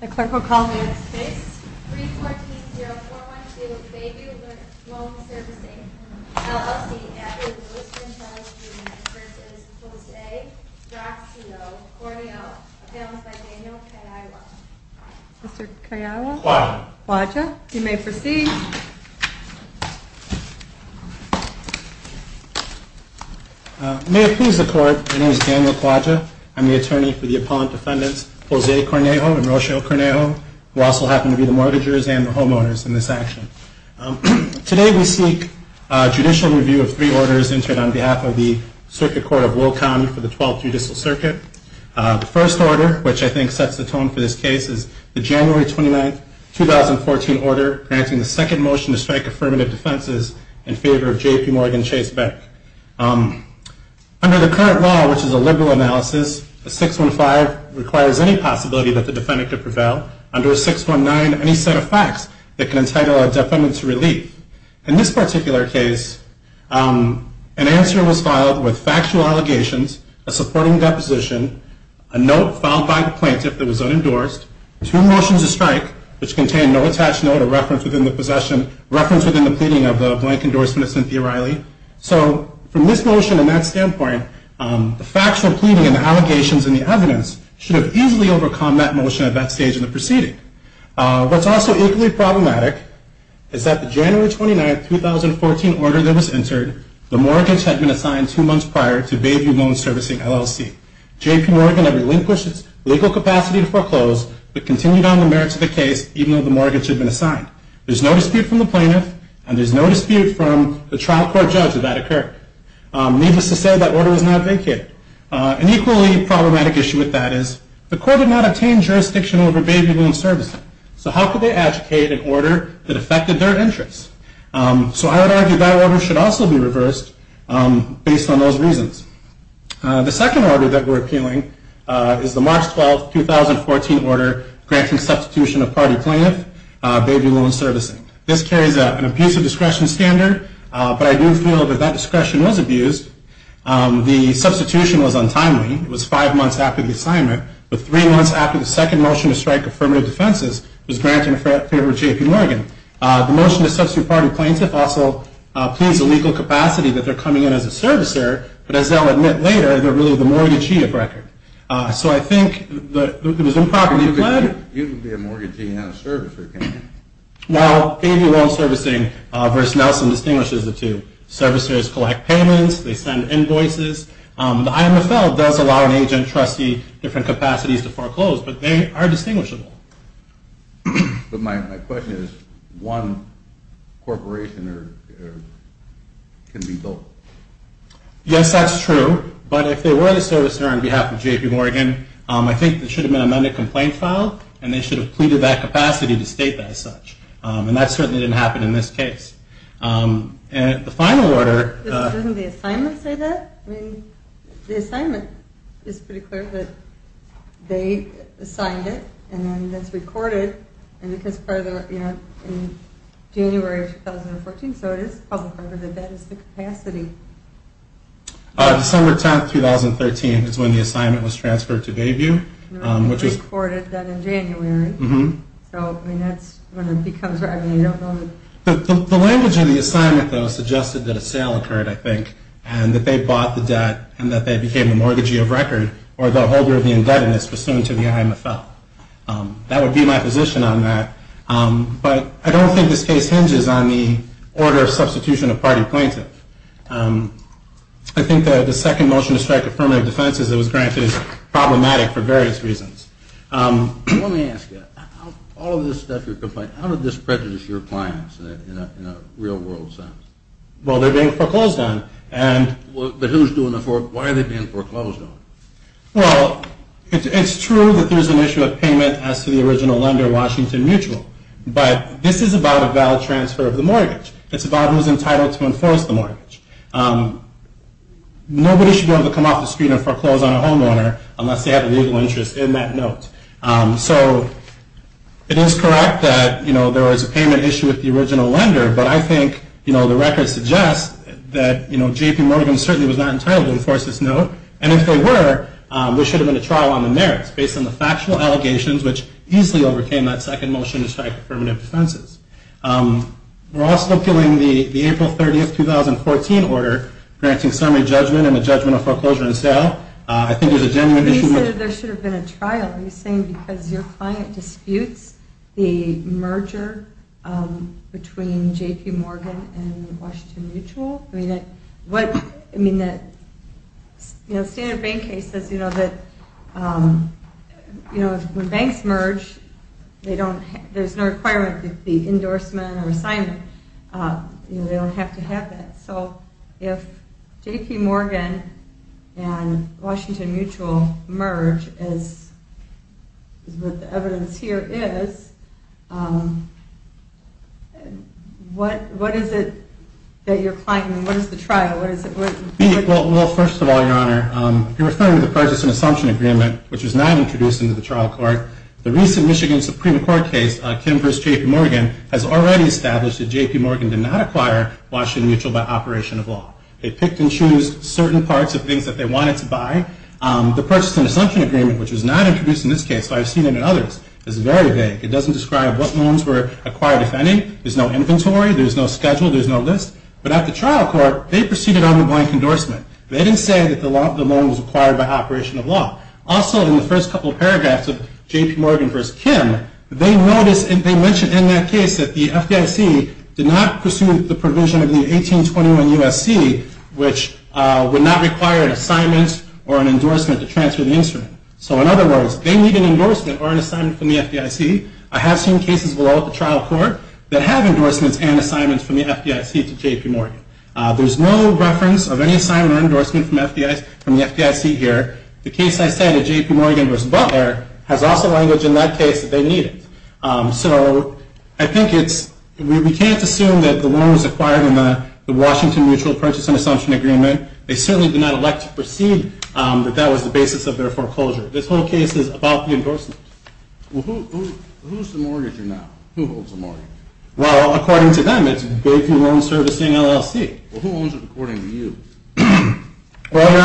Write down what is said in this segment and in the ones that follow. The clerk will call the case. 3-14-0-4-1-2 Bayview Loan Servicing, LLC added Lewis and Charles Jr. v. Jose Grazio Cornejo. Announced by Daniel Quaja. Mr. Quaja, you may proceed. May it please the court, my name is Daniel Quaja. I'm the attorney for the appellant defendants Jose Cornejo and Rocio Cornejo, who also happen to be the mortgagers and the homeowners in this action. Today we seek judicial review of three orders entered on behalf of the Circuit Court of Low County for the 12th Judicial Circuit. The first order, which I think sets the tone for this case, is the January 29, 2014 order granting the second motion to strike affirmative defenses in favor of J.P. Morgan Chase Beck. Under the current law, which is a liberal analysis, a 615 requires any possibility that the defendant could prevail. Under a 619, any set of facts that can entitle a defendant to relief. In this particular case, an answer was filed with factual allegations, a supporting deposition, a note filed by the plaintiff that was unendorsed, two motions to strike, which contained no attached note or reference within the possession, reference within the pleading of the blank endorsement of Cynthia Riley. So from this motion and that standpoint, the factual pleading and the allegations and the evidence should have easily overcome that motion at that stage in the proceeding. What's also equally problematic is that the January 29, 2014 order that was entered, the mortgage had been assigned two months prior to Bayview Loan Servicing LLC. J.P. Morgan had relinquished its legal capacity to foreclose but continued on the merits of the case even though the mortgage had been assigned. There's no dispute from the plaintiff and there's no dispute from the trial court judge that that occurred. Needless to say, that order was not vacated. An equally problematic issue with that is the court did not obtain jurisdiction over Bayview Loan Servicing. So how could they advocate an order that affected their interests? So I would argue that order should also be reversed based on those reasons. The second order that we're appealing is the March 12, 2014 order granting substitution of party plaintiff, Bayview Loan Servicing. This carries an abuse of discretion standard, but I do feel that that discretion was abused. The substitution was untimely. It was five months after the assignment, but three months after the second motion to strike affirmative defenses was granted in favor of J.P. Morgan. The motion to substitute party plaintiff also pleads the legal capacity that they're coming in as a servicer, but as they'll admit later, they're really the mortgagee of record. So I think it was improperly fled. You can be a mortgagee and not a servicer, can't you? Now, Bayview Loan Servicing versus Nelson distinguishes the two. Servicers collect payments. They send invoices. The IMFL does allow an agent trustee different capacities to foreclose, but they are distinguishable. But my question is one corporation can be built. Yes, that's true, but if they were the servicer on behalf of J.P. Morgan, I think there should have been an amended complaint filed, and they should have pleaded that capacity to state that as such. And that certainly didn't happen in this case. And the final order. Doesn't the assignment say that? I mean, the assignment is pretty clear that they assigned it, and then that's recorded, and it gets further, you know, in January of 2014. So it is public order that that is the capacity. December 10th, 2013 is when the assignment was transferred to Bayview. It was recorded then in January. So, I mean, that's when it becomes, I mean, you don't know. The language in the assignment, though, suggested that a sale occurred, I think, and that they bought the debt and that they became a mortgagee of record or the holder of the indebtedness pursuant to the IMFL. That would be my position on that. But I don't think this case hinges on the order of substitution of party plaintiff. I think that the second motion to strike affirmative defense, as it was granted, is problematic for various reasons. Let me ask you. All of this stuff you're complaining, how did this prejudice your clients in a real-world sense? Well, they're being foreclosed on. But who's doing the foreclosure? Why are they being foreclosed on? Well, it's true that there's an issue of payment as to the original lender, Washington Mutual. But this is about a valid transfer of the mortgage. It's about who's entitled to enforce the mortgage. Nobody should be able to come off the street and foreclose on a homeowner unless they have a legal interest in that note. So it is correct that there was a payment issue with the original lender. But I think the record suggests that J.P. Morgan certainly was not entitled to enforce this note. And if they were, there should have been a trial on the merits based on the factual allegations, which easily overcame that second motion to strike affirmative defenses. We're also appealing the April 30th, 2014 order granting summary judgment and the judgment of foreclosure and sale. I think there's a genuine issue. But you said there should have been a trial. Are you saying because your client disputes the merger between J.P. Morgan and Washington Mutual? I mean, the standard bank case says that when banks merge, there's no requirement that there be endorsement or assignment. They don't have to have that. So if J.P. Morgan and Washington Mutual merge, as the evidence here is, what is it that you're claiming? What is the trial? Well, first of all, Your Honor, you're referring to the purchase and assumption agreement, which was not introduced into the trial court. The recent Michigan Supreme Court case, Kim v. J.P. Morgan, has already established that J.P. Morgan did not acquire Washington Mutual by operation of law. They picked and chose certain parts of things that they wanted to buy. The purchase and assumption agreement, which was not introduced in this case, but I've seen it in others, is very vague. It doesn't describe what loans were acquired, if any. There's no inventory. There's no schedule. There's no list. But at the trial court, they proceeded on the blank endorsement. They didn't say that the loan was acquired by operation of law. Also, in the first couple of paragraphs of J.P. Morgan v. Kim, they mentioned in that case that the FDIC did not pursue the provision of the 1821 U.S.C., which would not require an assignment or an endorsement to transfer the instrument. So in other words, they need an endorsement or an assignment from the FDIC. I have seen cases below at the trial court that have endorsements and assignments from the FDIC to J.P. Morgan. There's no reference of any assignment or endorsement from the FDIC here. The case I cited, J.P. Morgan v. Butler, has also language in that case that they need it. So I think it's – we can't assume that the loan was acquired in the Washington Mutual Purchase and Assumption Agreement. They certainly did not elect to proceed, but that was the basis of their foreclosure. This whole case is about the endorsement. Well, who's the mortgager now? Who holds the mortgage? Well, according to them, it's J.P. Morgan Servicing, LLC. Well, who owns it according to you? Well, Your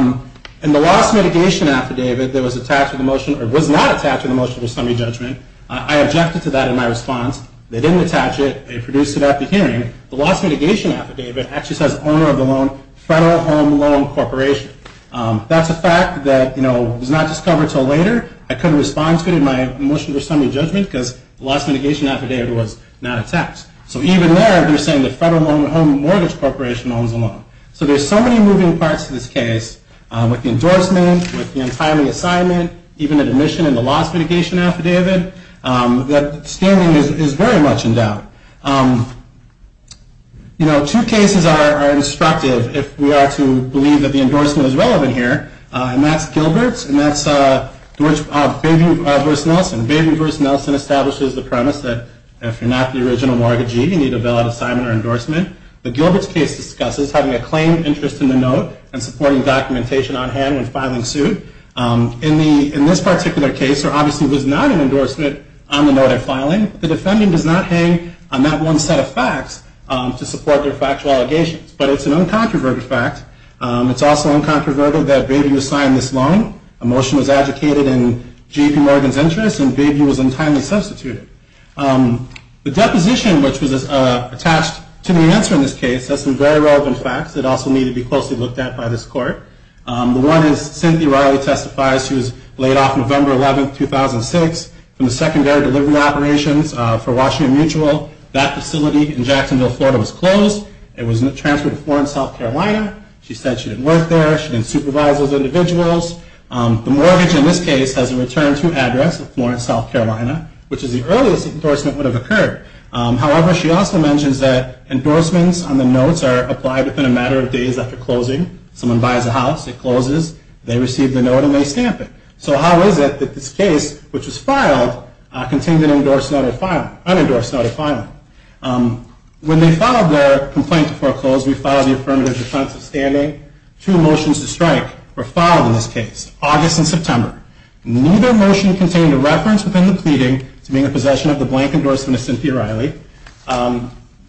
Honor, in the loss mitigation affidavit that was attached to the motion – or was not attached to the motion for summary judgment, I objected to that in my response. They didn't attach it. They produced it after hearing. The loss mitigation affidavit actually says owner of the loan, Federal Home Loan Corporation. That's a fact that, you know, was not discovered until later. I couldn't respond to it in my motion for summary judgment because the loss mitigation affidavit was not attached. So even there, they're saying the Federal Home Mortgage Corporation owns the loan. So there's so many moving parts to this case, with the endorsement, with the untimely assignment, even the admission in the loss mitigation affidavit, that standing is very much in doubt. You know, two cases are instructive if we are to believe that the endorsement is relevant here, and that's Gilbert's and that's Baby v. Nelson. Baby v. Nelson establishes the premise that if you're not the original mortgagee, you need a bailout assignment or endorsement. The Gilbert's case discusses having a claimed interest in the note and supporting documentation on hand when filing suit. In this particular case, there obviously was not an endorsement on the note of filing. The defendant does not hang on that one set of facts to support their factual allegations, but it's an uncontroverted fact. It's also uncontroverted that Baby was signed this loan. A motion was advocated in J.P. Morgan's interest, and Baby was untimely substituted. The deposition, which was attached to the answer in this case, has some very relevant facts that also need to be closely looked at by this court. The one is Cynthia Riley testifies. She was laid off November 11, 2006 from the secondary delivery operations for Washington Mutual. That facility in Jacksonville, Florida, was closed. It was transferred to Florence, South Carolina. She said she didn't work there. She didn't supervise those individuals. The mortgage in this case has a return to address of Florence, South Carolina, which is the earliest endorsement would have occurred. However, she also mentions that endorsements on the notes are applied within a matter of days after closing. Someone buys a house. It closes. They receive the note, and they stamp it. So how is it that this case, which was filed, contained an unendorsed note of filing? When they filed their complaint to foreclose, we filed the affirmative defense of standing. Two motions to strike were filed in this case, August and September. Neither motion contained a reference within the pleading to being in possession of the blank endorsement of Cynthia Riley.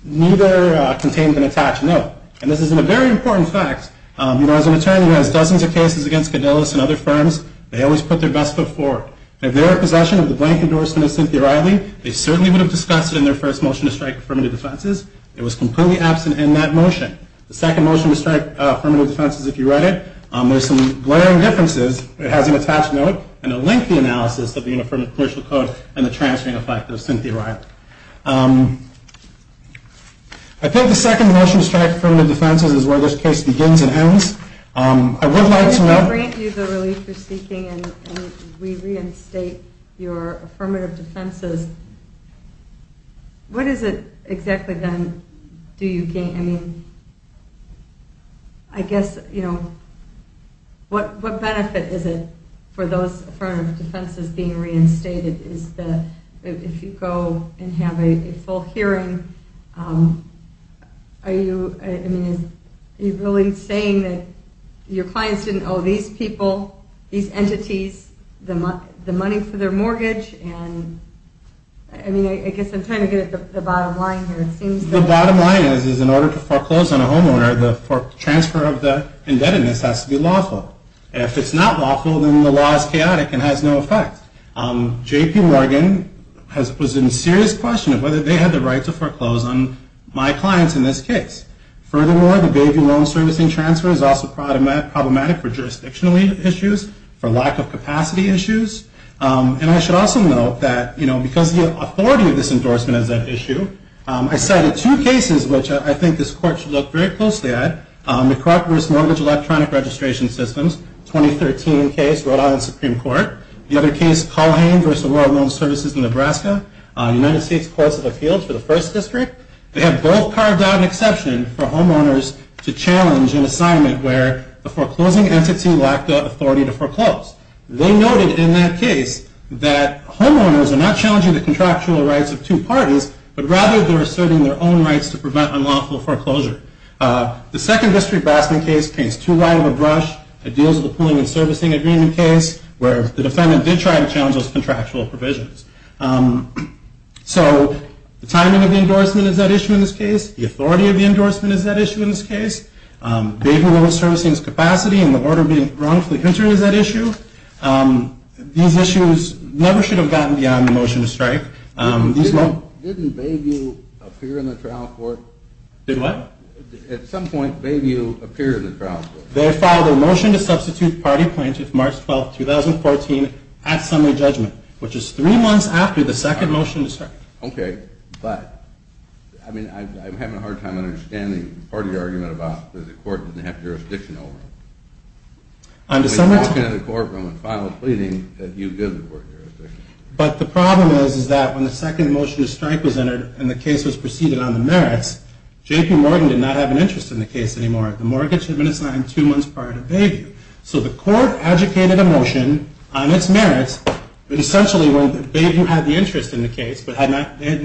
Neither contained an attached note. And this is a very important fact. As an attorney who has dozens of cases against Cadillus and other firms, they always put their best foot forward. If they were in possession of the blank endorsement of Cynthia Riley, they certainly would have discussed it in their first motion to strike affirmative defenses. It was completely absent in that motion. The second motion to strike affirmative defenses, if you read it, there are some glaring differences. It has an attached note and a lengthy analysis of the unaffirmative commercial code and the transferring effect of Cynthia Riley. I think the second motion to strike affirmative defenses is where this case begins and ends. I would like to know. If we grant you the relief you're seeking and we reinstate your affirmative defenses, what is it exactly then do you gain? I mean, I guess, you know, what benefit is it for those affirmative defenses being reinstated? If you go and have a full hearing, are you really saying that your clients didn't owe these people, these entities, the money for their mortgage? I mean, I guess I'm trying to get at the bottom line here. The bottom line is in order to foreclose on a homeowner, the transfer of the indebtedness has to be lawful. If it's not lawful, then the law is chaotic and has no effect. J.P. Morgan was in serious question of whether they had the right to foreclose on my clients in this case. Furthermore, the baby loan servicing transfer is also problematic for jurisdictional issues, for lack of capacity issues. And I should also note that, you know, because the authority of this endorsement is at issue, I cited two cases which I think this Court should look very closely at. McCracken v. Mortgage Electronic Registration Systems, 2013 case, Rhode Island Supreme Court. The other case, Culhane v. Royal Loan Services in Nebraska, United States Courts of Appeals for the First District. They have both carved out an exception for homeowners to challenge an assignment where the foreclosing entity lacked the authority to foreclose. They noted in that case that homeowners are not challenging the contractual rights of two parties, but rather they're asserting their own rights to prevent unlawful foreclosure. The second District Blasphemy case paints too light of a brush. It deals with the pooling and servicing agreement case, where the defendant did try to challenge those contractual provisions. So the timing of the endorsement is at issue in this case. The authority of the endorsement is at issue in this case. Baby loan servicing's capacity and the order being wrongfully hindered is at issue. These issues never should have gotten beyond the motion to strike. Didn't Bayview appear in the trial court? Did what? At some point, Bayview appeared in the trial court. They filed a motion to substitute party plaintiff March 12th, 2014 at summary judgment, which is three months after the second motion to strike. Okay, but I'm having a hard time understanding part of your argument about the court doesn't have jurisdiction over it. On December 10th. They talked to the courtroom and filed a pleading that you give the court jurisdiction. But the problem is that when the second motion to strike was entered and the case was proceeded on the merits, J.P. Morgan did not have an interest in the case anymore. The mortgage had been assigned two months prior to Bayview. So the court adjudicated a motion on its merits, essentially when Bayview had the interest in the case but had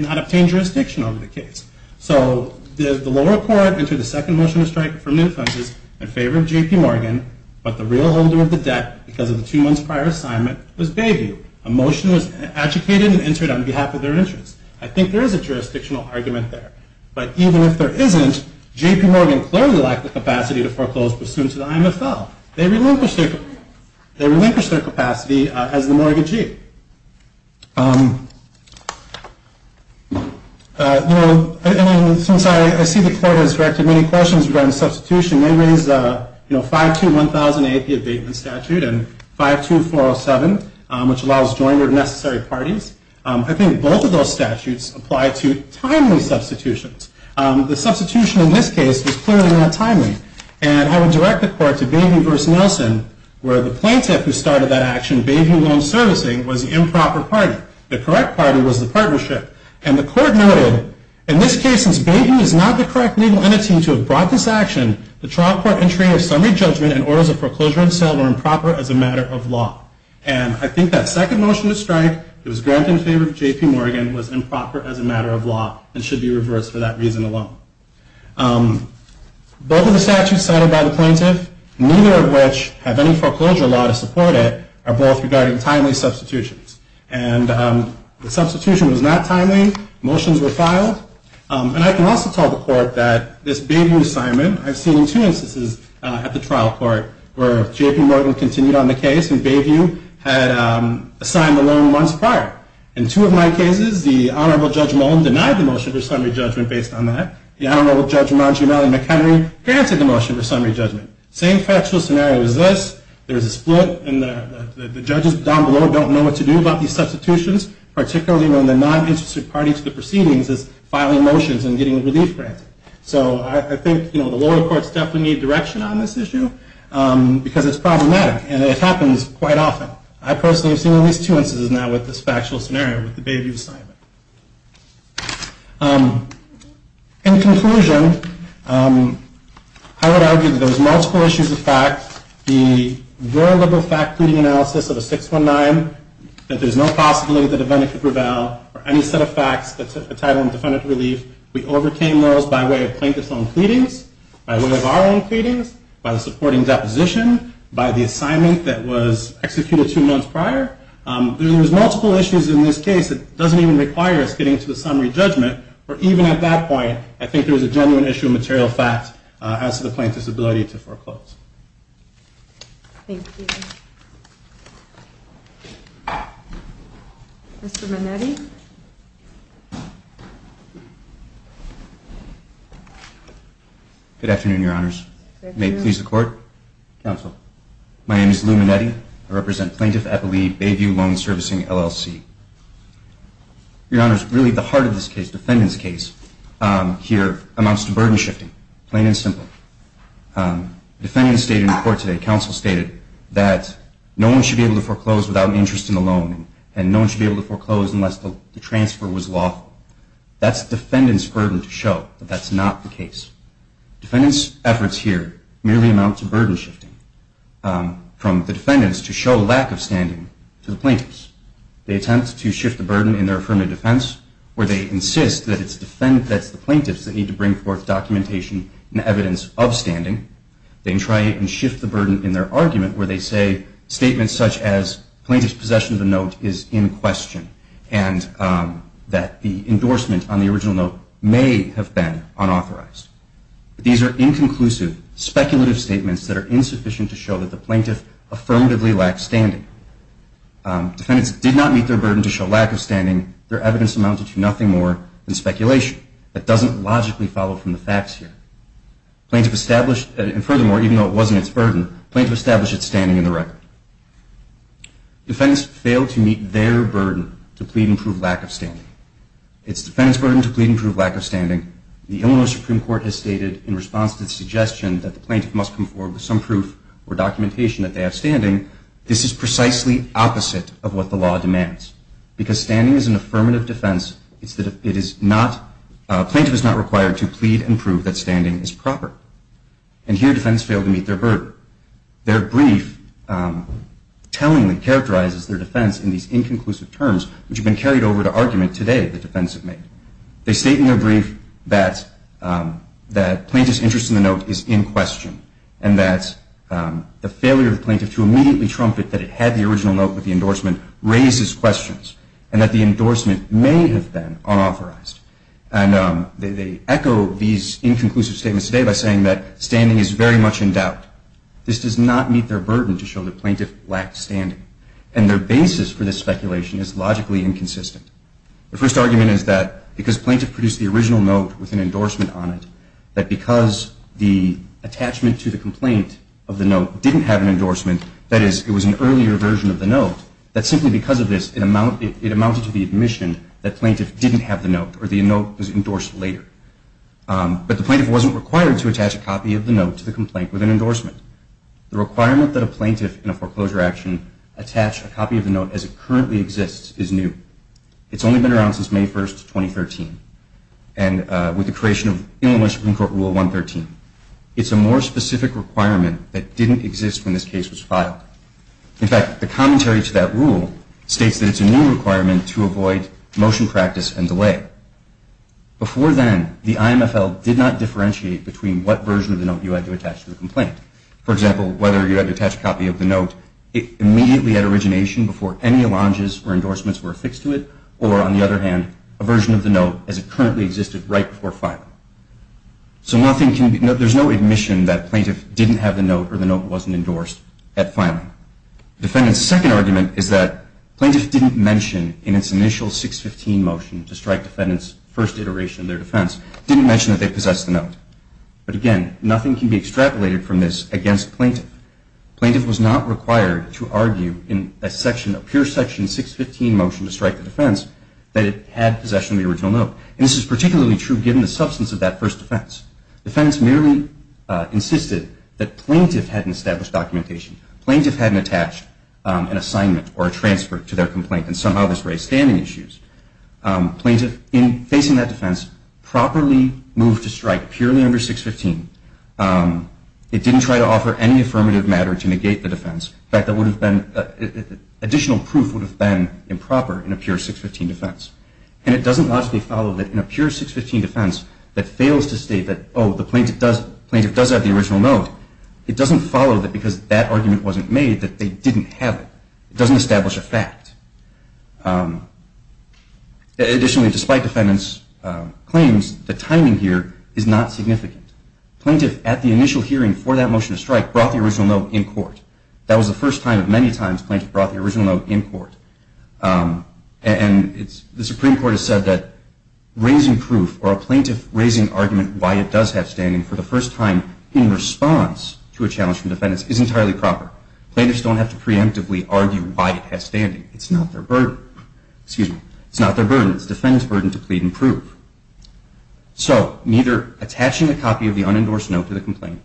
not obtained jurisdiction over the case. So the lower court entered the second motion to strike from the inferences in favor of J.P. Morgan, but the real holder of the debt because of the two months prior assignment was Bayview. A motion was adjudicated and entered on behalf of their interest. I think there is a jurisdictional argument there. But even if there isn't, J.P. Morgan clearly lacked the capacity to foreclose pursuant to the IMFL. They relinquished their capacity as the mortgagee. And since I see the court has directed many questions regarding substitution, they raised 521,000 AP abatement statute and 52407, which allows joiner of necessary parties. I think both of those statutes apply to timely substitutions. The substitution in this case was clearly not timely. And I would direct the court to Bayview v. Nelson, where the plaintiff who started that action, Bayview Loan Servicing, was the improper party. The correct party was the partnership. And the court noted, in this case, since Bayview is not the correct legal entity to have brought this action, the trial court entry of summary judgment and orders of foreclosure and sale were improper as a matter of law. And I think that second motion to strike that was granted in favor of J.P. Morgan was improper as a matter of law and should be reversed for that reason alone. Both of the statutes cited by the plaintiff, neither of which have any foreclosure law to support it, are both regarding timely substitutions. And the substitution was not timely. Motions were filed. And I can also tell the court that this Bayview assignment, I've seen in two instances at the trial court, where J.P. Morgan continued on the case and Bayview had assigned the loan months prior. In two of my cases, the Honorable Judge Mullen denied the motion for summary judgment based on that. The Honorable Judge Ramon G. Malley-McHenry granted the motion for summary judgment. Same factual scenario as this. There's a split and the judges down below don't know what to do about these substitutions, particularly when the non-interested party to the proceedings is filing motions and getting relief granted. So I think the lower courts definitely need direction on this issue because it's problematic and it happens quite often. I personally have seen at least two instances now with this factual scenario with the Bayview assignment. In conclusion, I would argue that there's multiple issues of fact. The very liberal fact-cleaning analysis of a 619, that there's no possibility that a vendor could prevail, or any set of facts that's entitled in defendant relief. We overcame those by way of plaintiff's own pleadings, by way of our own pleadings, by the supporting deposition, by the assignment that was executed two months prior. There's multiple issues in this case that doesn't even require us getting to the summary judgment. But even at that point, I think there's a genuine issue of material fact as to the plaintiff's ability to foreclose. Thank you. Mr. Manetti? Good afternoon, Your Honors. May it please the Court. Counsel. My name is Lou Manetti. I represent Plaintiff Eppley Bayview Loan Servicing, LLC. Your Honors, really the heart of this case, defendant's case, here amounts to burden shifting, plain and simple. Defendant stated in court today, counsel stated, that no one should be able to foreclose without an interest in the loan, and no one should be able to foreclose unless the transfer was lawful. That's defendant's burden to show, but that's not the case. Defendant's efforts here merely amounts to burden shifting from the defendants to show lack of standing to the plaintiffs. They attempt to shift the burden in their affirmative defense where they insist that it's the plaintiffs that need to bring forth documentation and evidence of standing. They try and shift the burden in their argument where they say statements such as, on the original note, may have been unauthorized. These are inconclusive, speculative statements that are insufficient to show that the plaintiff affirmatively lacked standing. Defendants did not meet their burden to show lack of standing. Their evidence amounted to nothing more than speculation. That doesn't logically follow from the facts here. Plaintiff established, and furthermore, even though it wasn't its burden, plaintiff established its standing in the record. Defendants failed to meet their burden to plead and prove lack of standing. It's defendant's burden to plead and prove lack of standing. The Illinois Supreme Court has stated in response to the suggestion that the plaintiff must come forward with some proof or documentation that they have standing, this is precisely opposite of what the law demands. Because standing is an affirmative defense, it's that it is not, plaintiff is not required to plead and prove that standing is proper. And here defendants failed to meet their burden. Their brief tellingly characterizes their defense in these inconclusive terms, which have been carried over to argument today the defense have made. They state in their brief that plaintiff's interest in the note is in question, and that the failure of the plaintiff to immediately trumpet that it had the original note with the endorsement raises questions, and that the endorsement may have been unauthorized. And they echo these inconclusive statements today by saying that standing is very much in doubt. This does not meet their burden to show that plaintiff lacked standing, and their basis for this speculation is logically inconsistent. The first argument is that because plaintiff produced the original note with an endorsement on it, that because the attachment to the complaint of the note didn't have an endorsement, that is, it was an earlier version of the note, that simply because of this, it amounted to the admission that plaintiff didn't have the note, or the note was endorsed later. But the plaintiff wasn't required to attach a copy of the note to the complaint with an endorsement. The requirement that a plaintiff in a foreclosure action attach a copy of the note as it currently exists is new. It's only been around since May 1, 2013, and with the creation of Illinois Supreme Court Rule 113. It's a more specific requirement that didn't exist when this case was filed. In fact, the commentary to that rule states that it's a new requirement to avoid motion practice and delay. Before then, the IMFL did not differentiate between what version of the note you had to attach to the complaint. For example, whether you had to attach a copy of the note immediately at origination, before any allonges or endorsements were affixed to it, or on the other hand, a version of the note as it currently existed right before filing. So there's no admission that plaintiff didn't have the note or the note wasn't endorsed at filing. Defendant's second argument is that plaintiff didn't mention in its initial 615 motion to strike defendant's first iteration of their defense, didn't mention that they possessed the note. But again, nothing can be extrapolated from this against plaintiff. Plaintiff was not required to argue in a pure section 615 motion to strike the defense that it had possession of the original note. And this is particularly true given the substance of that first defense. Defendants merely insisted that plaintiff hadn't established documentation, plaintiff hadn't attached an assignment or a transfer to their complaint, and somehow this raised standing issues. Plaintiff, in facing that defense, properly moved to strike purely under 615. It didn't try to offer any affirmative matter to negate the defense. In fact, additional proof would have been improper in a pure 615 defense. And it doesn't logically follow that in a pure 615 defense that fails to state that, oh, the plaintiff does have the original note. It doesn't follow that because that argument wasn't made that they didn't have it. It doesn't establish a fact. Additionally, despite defendant's claims, the timing here is not significant. Plaintiff, at the initial hearing for that motion to strike, brought the original note in court. That was the first time of many times plaintiff brought the original note in court. And the Supreme Court has said that raising proof or a plaintiff raising argument why it does have standing for the first time in response to a challenge from defendants is entirely proper. Plaintiffs don't have to preemptively argue why it has standing. It's not their burden. It's defendant's burden to plead and prove. So neither attaching a copy of the unendorsed note to the complaint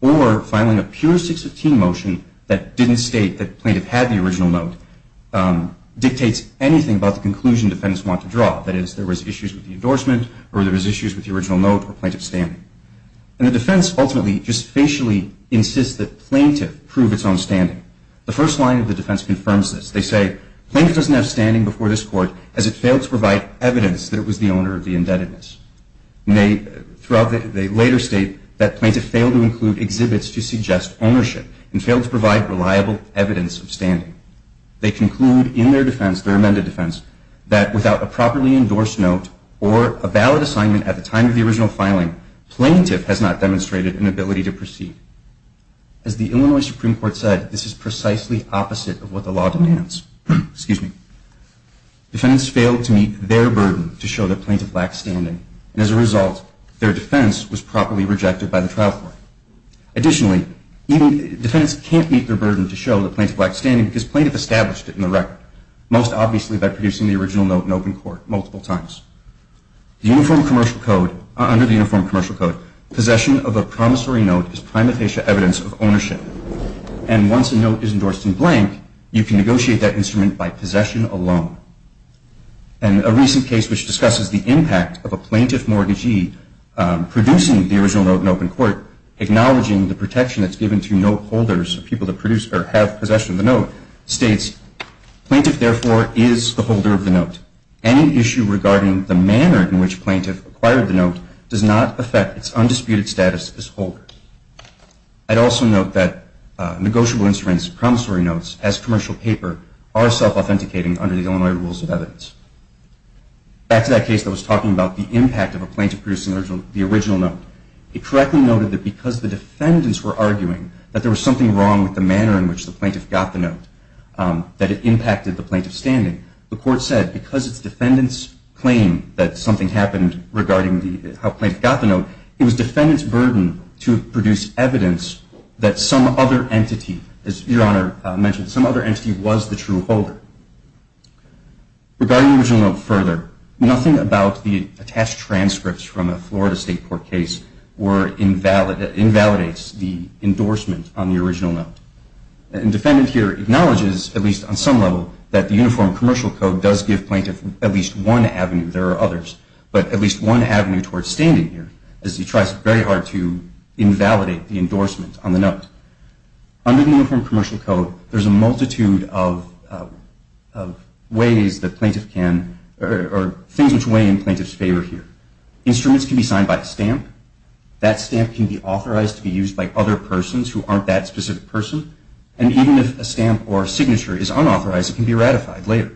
or filing a pure 615 motion that didn't state that plaintiff had the original note dictates anything about the conclusion defendants want to draw. That is, there was issues with the endorsement or there was issues with the original note or plaintiff's standing. And the defense ultimately just facially insists that plaintiff prove its own standing. The first line of the defense confirms this. They say, plaintiff doesn't have standing before this court as it failed to provide evidence that it was the owner of the indebtedness. They later state that plaintiff failed to include exhibits to suggest ownership and failed to provide reliable evidence of standing. They conclude in their defense, their amended defense, that without a properly endorsed note or a valid assignment at the time of the original filing, plaintiff has not demonstrated an ability to proceed. As the Illinois Supreme Court said, this is precisely opposite of what the law demands. Excuse me. Defendants failed to meet their burden to show that plaintiff lacked standing. And as a result, their defense was properly rejected by the trial court. Additionally, defendants can't meet their burden to show that plaintiff lacked standing because plaintiff established it in the record, most obviously by producing the original note in open court multiple times. Under the Uniform Commercial Code, possession of a promissory note is prima facie evidence of ownership. And once a note is endorsed in blank, you can negotiate that instrument by possession alone. And a recent case which discusses the impact of a plaintiff mortgagee producing the original note in open court, acknowledging the protection that's given to note holders, people that have possession of the note, states, Plaintiff, therefore, is the holder of the note. Any issue regarding the manner in which plaintiff acquired the note does not affect its undisputed status as holder. I'd also note that negotiable instruments, promissory notes, as commercial paper, are self-authenticating under the Illinois Rules of Evidence. Back to that case that was talking about the impact of a plaintiff producing the original note. It correctly noted that because the defendants were arguing that there was something wrong with the manner in which the plaintiff got the note, that it impacted the plaintiff's standing. The court said because its defendants claimed that something happened regarding how plaintiff got the note, it was defendants' burden to produce evidence that some other entity, as Your Honor mentioned, some other entity was the true holder. Regarding the original note further, nothing about the attached transcripts from a Florida State Court case invalidates the endorsement on the original note. The defendant here acknowledges, at least on some level, that the Uniform Commercial Code does give plaintiff at least one avenue, there are others, but at least one avenue towards standing here, as he tries very hard to invalidate the endorsement on the note. Under the Uniform Commercial Code, there's a multitude of ways that plaintiff can, or things which weigh in plaintiff's favor here. Instruments can be signed by a stamp, that stamp can be authorized to be used by other persons who aren't that specific person, and even if a stamp or signature is unauthorized, it can be ratified later.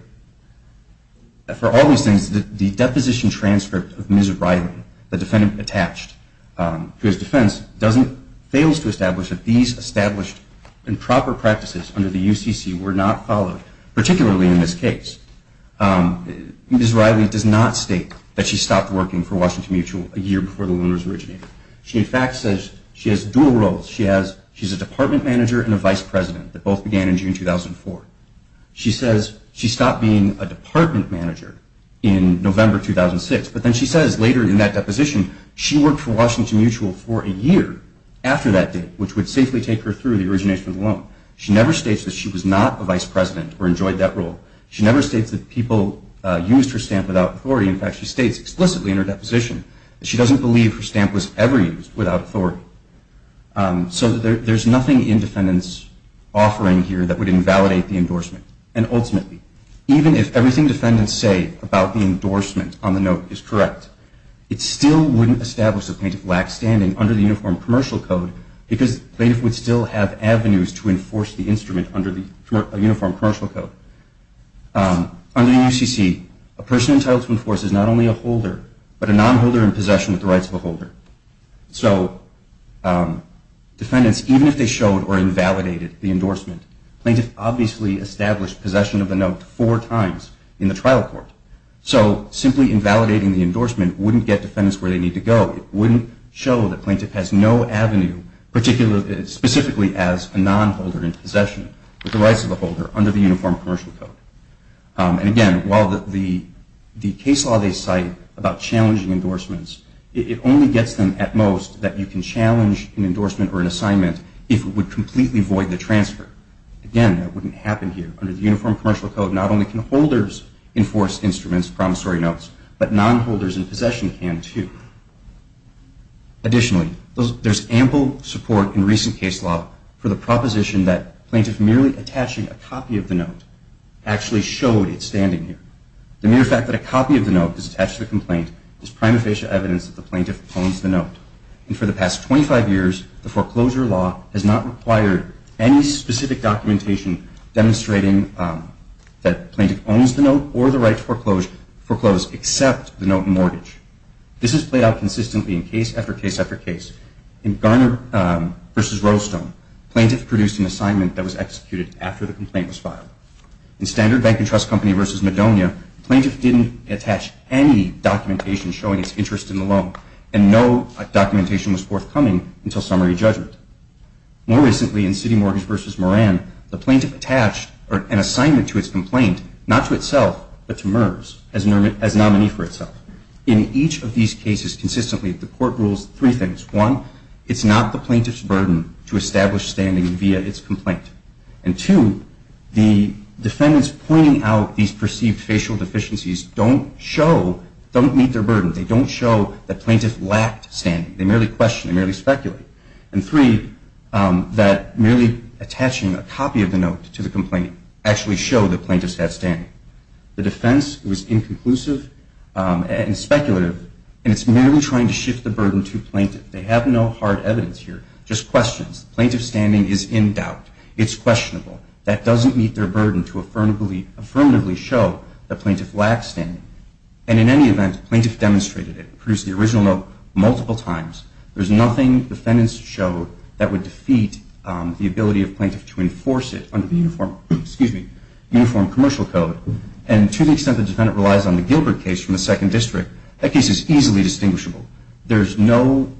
For all these things, the deposition transcript of Ms. Riley, the defendant attached to his defense, fails to establish that these established and proper practices under the UCC were not followed, particularly in this case. Ms. Riley does not state that she stopped working for Washington Mutual a year before the loaners originated. She, in fact, says she has dual roles. She's a department manager and a vice president that both began in June 2004. She says she stopped being a department manager in November 2006, but then she says later in that deposition she worked for Washington Mutual for a year after that date, which would safely take her through the origination of the loan. She never states that she was not a vice president or enjoyed that role. She never states that people used her stamp without authority. In fact, she states explicitly in her deposition that she doesn't believe her stamp was ever used without authority. So there's nothing in defendants' offering here that would invalidate the endorsement. And ultimately, even if everything defendants say about the endorsement on the note is correct, it still wouldn't establish that plaintiff lacked standing under the Uniform Commercial Code because plaintiff would still have avenues to enforce the instrument under the Uniform Commercial Code. Under the UCC, a person entitled to enforce is not only a holder, but a nonholder in possession with the rights of a holder. So defendants, even if they showed or invalidated the endorsement, plaintiff obviously established possession of the note four times in the trial court. So simply invalidating the endorsement wouldn't get defendants where they need to go. It wouldn't show that plaintiff has no avenue, specifically as a nonholder in possession with the rights of a holder under the Uniform Commercial Code. And again, while the case law they cite about challenging endorsements, it only gets them at most that you can challenge an endorsement or an assignment if it would completely void the transfer. Again, that wouldn't happen here. Under the Uniform Commercial Code, not only can holders enforce instruments, promissory notes, but nonholders in possession can, too. Additionally, there's ample support in recent case law for the proposition that plaintiff merely attaching a copy of the note actually showed it standing here. The mere fact that a copy of the note is attached to the complaint is prima facie evidence that the plaintiff owns the note. And for the past 25 years, the foreclosure law has not required any specific documentation demonstrating that plaintiff owns the note or the right to foreclose except the note in mortgage. This has played out consistently in case after case after case. In Garner v. Rolestone, plaintiff produced an assignment that was executed after the complaint was filed. In Standard Bank & Trust Company v. Madonia, plaintiff didn't attach any documentation showing its interest in the loan and no documentation was forthcoming until summary judgment. More recently, in City Mortgage v. Moran, the plaintiff attached an assignment to its complaint, not to itself, but to MERS as nominee for itself. In each of these cases consistently, the court rules three things. One, it's not the plaintiff's burden to establish standing via its complaint. And two, the defendants pointing out these perceived facial deficiencies don't show, don't meet their burden. They don't show that plaintiff lacked standing. They merely question. They merely speculate. And three, that merely attaching a copy of the note to the complaint actually showed that plaintiff had standing. The defense was inconclusive and speculative, and it's merely trying to shift the burden to plaintiff. They have no hard evidence here, just questions. Plaintiff's standing is in doubt. It's questionable. That doesn't meet their burden to affirmatively show that plaintiff lacks standing. And in any event, plaintiff demonstrated it, produced the original note multiple times. There's nothing defendants showed that would defeat the ability of plaintiff to enforce it under the Uniform Commercial Code. And to the extent the defendant relies on the Gilbert case from the Second District, that case is easily distinguishable. There's no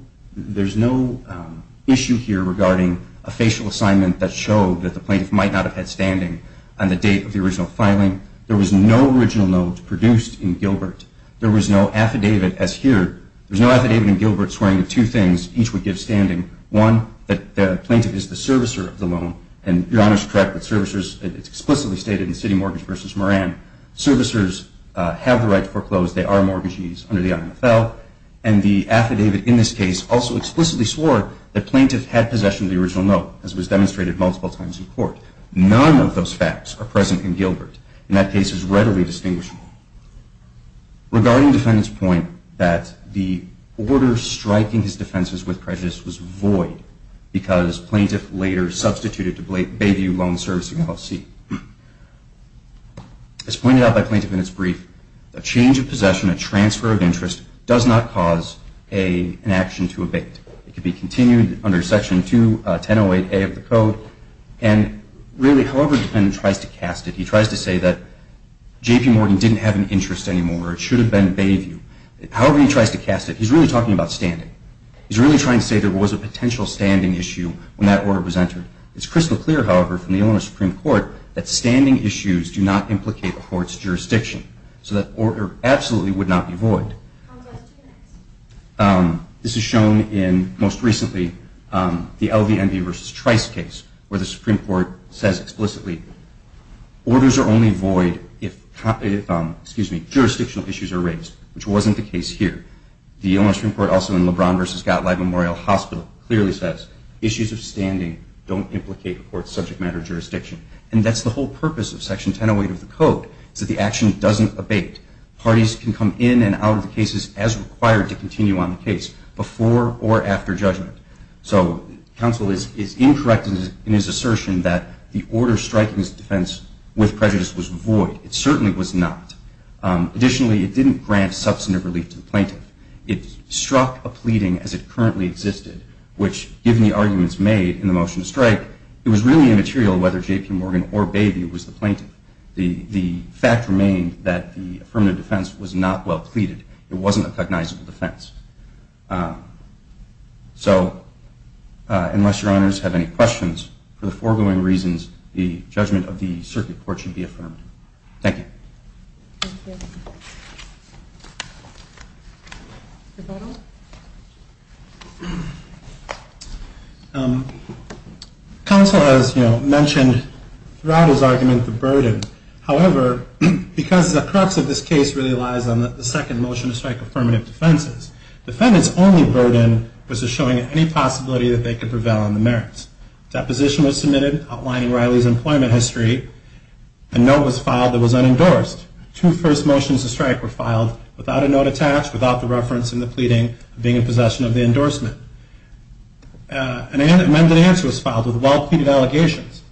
issue here regarding a facial assignment that showed that the plaintiff might not have had standing on the date of the original filing. There was no original note produced in Gilbert. There was no affidavit as here. There was no affidavit in Gilbert swearing that two things each would give standing. One, that the plaintiff is the servicer of the loan. And Your Honor's correct with servicers. It's explicitly stated in City Mortgage v. Moran. Servicers have the right to foreclose. They are mortgagees under the IMFL. And the affidavit in this case also explicitly swore that plaintiff had possession of the original note, as was demonstrated multiple times in court. None of those facts are present in Gilbert. And that case is readily distinguishable. Regarding defendant's point that the order striking his defenses with prejudice was void because plaintiff later substituted to Bayview Loan Servicing LLC. As pointed out by Plaintiff in its brief, a change of possession, a transfer of interest does not cause an action to abate. It could be continued under Section 2108A of the code. And really, however defendant tries to cast it, he tries to say that J.P. Morton didn't have an interest anymore. It should have been Bayview. However he tries to cast it, he's really talking about standing. He's really trying to say there was a potential standing issue when that order was entered. It's crystal clear, however, from the Illinois Supreme Court that standing issues do not implicate a court's jurisdiction. So that order absolutely would not be void. This is shown in, most recently, the LVMV v. Trice case, where the Supreme Court says explicitly, orders are only void if jurisdictional issues are raised, which wasn't the case here. The Illinois Supreme Court also in LeBron v. Gottlieb Memorial Hospital clearly says, issues of standing don't implicate a court's subject matter jurisdiction. And that's the whole purpose of Section 1008 of the code, is that the action doesn't abate. Parties can come in and out of the cases as required to continue on the case, before or after judgment. So counsel is incorrect in his assertion that the order striking his defense with prejudice was void. It certainly was not. Additionally, it didn't grant substantive relief to the plaintiff. It struck a pleading as it currently existed, which, given the arguments made in the motion to strike, it was really immaterial whether J.P. Morgan or Bayview was the plaintiff. The fact remained that the affirmative defense was not well pleaded. It wasn't a recognizable defense. So unless your honors have any questions, for the foregoing reasons, the judgment of the circuit court should be affirmed. Thank you. Thank you. Rebuttal? Counsel has mentioned throughout his argument the burden. However, because the crux of this case really lies on the second motion to strike affirmative defenses, defendants' only burden was showing any possibility that they could prevail on the merits. Deposition was submitted outlining Riley's employment history. A note was filed that was unendorsed. Two first motions to strike were filed without a note attached, without the reference in the pleading of being in possession of the endorsement. An amended answer was filed with well-pleaded allegations.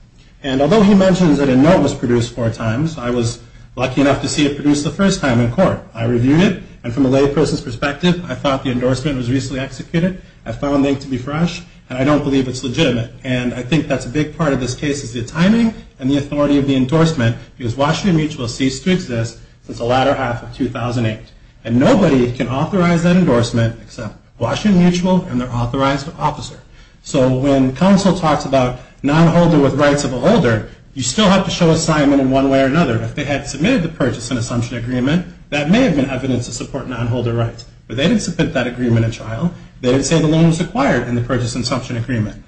And although he mentions that a note was produced four times, I was lucky enough to see it produced the first time in court. I reviewed it, and from a lay person's perspective, I thought the endorsement was recently executed. I found it to be fresh, and I don't believe it's legitimate. And I think that's a big part of this case is the timing and the authority of the endorsement, because Washington Mutual ceased to exist since the latter half of 2008. And nobody can authorize that endorsement except Washington Mutual and their authorized officer. So when counsel talks about nonholder with rights of a holder, you still have to show assignment in one way or another. If they had submitted the purchase and assumption agreement, that may have been evidence to support nonholder rights. But they didn't submit that agreement at trial. They didn't say the loan was acquired in the purchase and assumption agreement.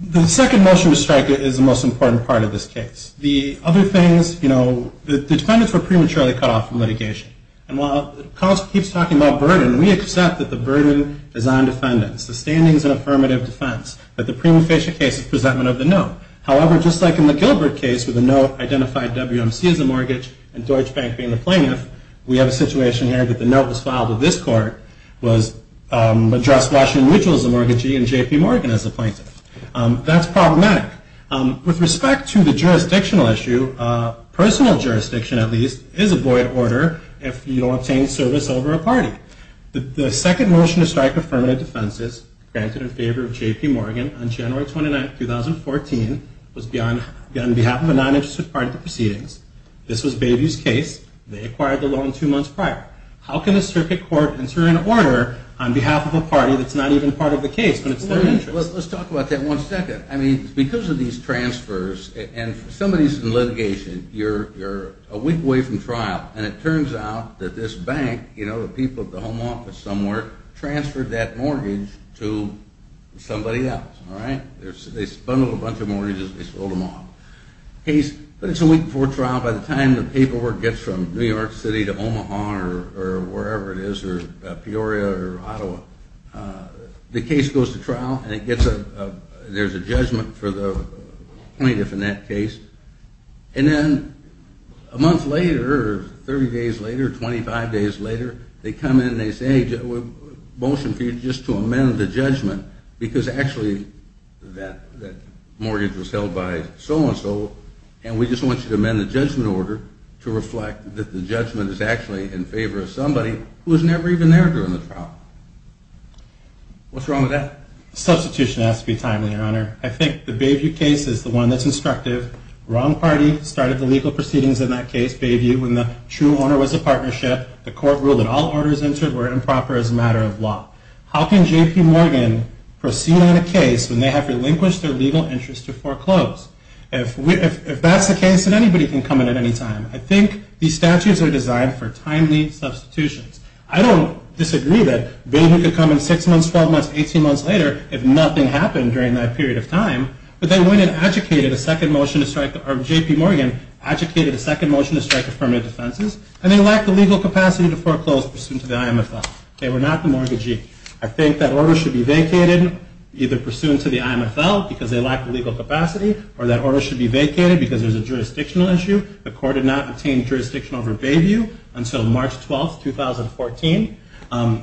The second motion to strike is the most important part of this case. The other things, you know, the defendants were prematurely cut off from litigation. And while counsel keeps talking about burden, we accept that the burden is on defendants. The standing is an affirmative defense. But the prima facie case is presentment of the note. However, just like in the Gilbert case where the note identified WMC as a mortgage and Deutsche Bank being the plaintiff, we have a situation here that the note was filed with this court, was addressed Washington Mutual as a mortgagee and J.P. Morgan as a plaintiff. That's problematic. With respect to the jurisdictional issue, personal jurisdiction, at least, is a void order if you don't obtain service over a party. The second motion to strike affirmative defenses granted in favor of J.P. Morgan on January 29, 2014, was on behalf of a non-interested party to proceedings. This was Bayview's case. They acquired the loan two months prior. How can a circuit court enter an order on behalf of a party that's not even part of the case when it's their interest? Let's talk about that one second. I mean, because of these transfers, and somebody's in litigation, you're a week away from trial. And it turns out that this bank, you know, the people at the home office somewhere, transferred that mortgage to somebody else. All right? They bundled a bunch of mortgages and they sold them off. But it's a week before trial. By the time the paperwork gets from New York City to Omaha or wherever it is, or Peoria or Ottawa, the case goes to trial and there's a judgment for the plaintiff in that case. And then a month later, 30 days later, 25 days later, they come in and they say, we have a motion for you just to amend the judgment because actually that mortgage was held by so-and-so, and we just want you to amend the judgment order to reflect that the judgment is actually in favor of somebody who was never even there during the trial. What's wrong with that? Substitution has to be timely, Your Honor. I think the Bayview case is the one that's instructive. Wrong party started the legal proceedings in that case, Bayview, when the true owner was a partnership. The court ruled that all orders entered were improper as a matter of law. How can J.P. Morgan proceed on a case when they have relinquished their legal interest to foreclose? If that's the case, then anybody can come in at any time. I think these statutes are designed for timely substitutions. I don't disagree that Bayview could come in 6 months, 12 months, 18 months later if nothing happened during that period of time, but they went and adjudicated a second motion to strike, or J.P. Morgan adjudicated a second motion to strike affirmative defenses, and they lacked the legal capacity to foreclose pursuant to the IMFL. They were not the mortgagee. I think that order should be vacated either pursuant to the IMFL, because they lacked the legal capacity, or that order should be vacated because there's a jurisdictional issue. The court did not obtain jurisdiction over Bayview until March 12, 2014.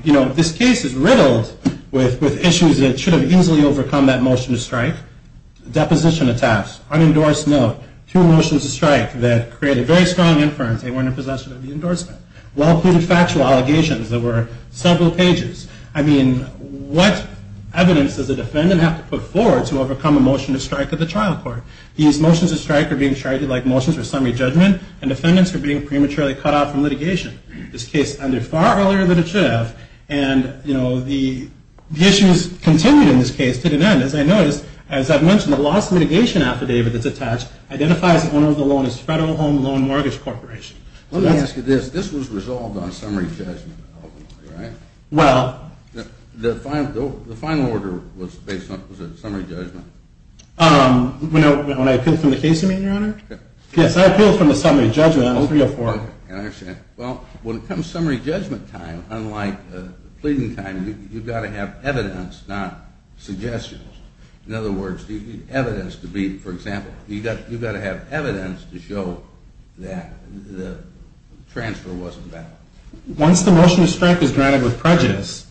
You know, this case is riddled with issues that should have easily overcome that motion to strike. Deposition attacks, unendorsed note, two motions to strike that created very strong inference. They weren't in possession of the endorsement. Well-cluded factual allegations that were several pages. I mean, what evidence does a defendant have to put forward to overcome a motion to strike at the trial court? These motions to strike are being treated like motions for summary judgment, and defendants are being prematurely cut out from litigation. This case ended far earlier than it should have, and, you know, the issues continued in this case to the end. As I noticed, as I've mentioned, the loss mitigation affidavit that's attached identifies the owner of the loan as Federal Home Loan Mortgage Corporation. Let me ask you this. This was resolved on summary judgment, ultimately, right? Well- The final order was a summary judgment. When I appealed for the case, Your Honor? Yes, I appealed for the summary judgment on 03-04. I understand. Well, when it comes to summary judgment time, unlike pleading time, you've got to have evidence, not suggestions. In other words, the evidence to be, for example, you've got to have evidence to show that the transfer wasn't valid. Once the motion to strike is granted with prejudice,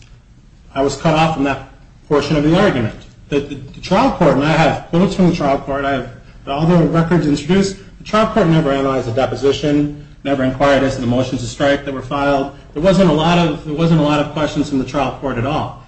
I was cut off from that portion of the argument. The trial court, and I have notes from the trial court, I have all the records introduced. The trial court never analyzed the deposition, never inquired as to the motions to strike that were filed. There wasn't a lot of questions from the trial court at all.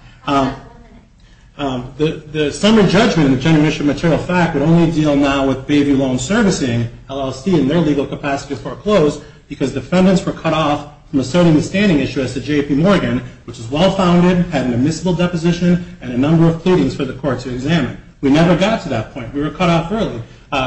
The summary judgment in the general mission material fact would only deal now with Bayview Loan Servicing, LLC, and their legal capacity to foreclose because defendants were cut off from asserting the standing issue as to J.P. Morgan, which is well-founded, had an admissible deposition, and a number of pleadings for the court to examine. We never got to that point. We were cut off early.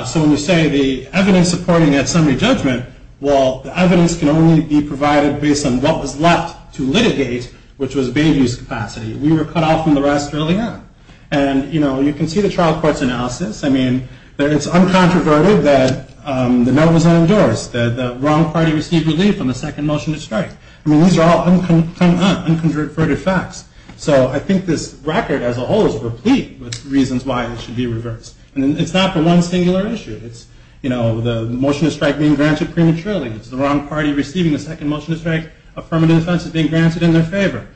So when you say the evidence supporting that summary judgment, well, the evidence can only be provided based on what was left to litigate, which was Bayview's capacity. We were cut off from the rest early on. And, you know, you can see the trial court's analysis. I mean, it's uncontroverted that the note was unendorsed, that the wrong party received relief on the second motion to strike. I mean, these are all unconverted facts. So I think this record as a whole is replete with reasons why it should be reversed. And it's not for one singular issue. It's, you know, the motion to strike being granted prematurely. It's the wrong party receiving the second motion to strike affirmative defense as being granted in their favor.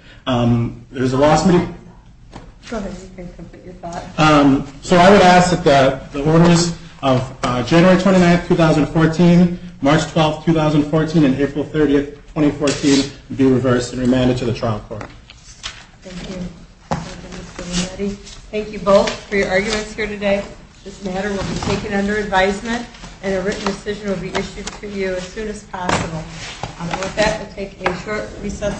There's a lawsuit. So I would ask that the orders of January 29th, 2014, March 12th, 2014, and April 30th, 2014, be reversed and remanded to the trial court. Thank you both for your arguments here today. This matter will be taken under advisement, and a written decision will be issued to you as soon as possible. With that, we'll take a short recess for panel discussion.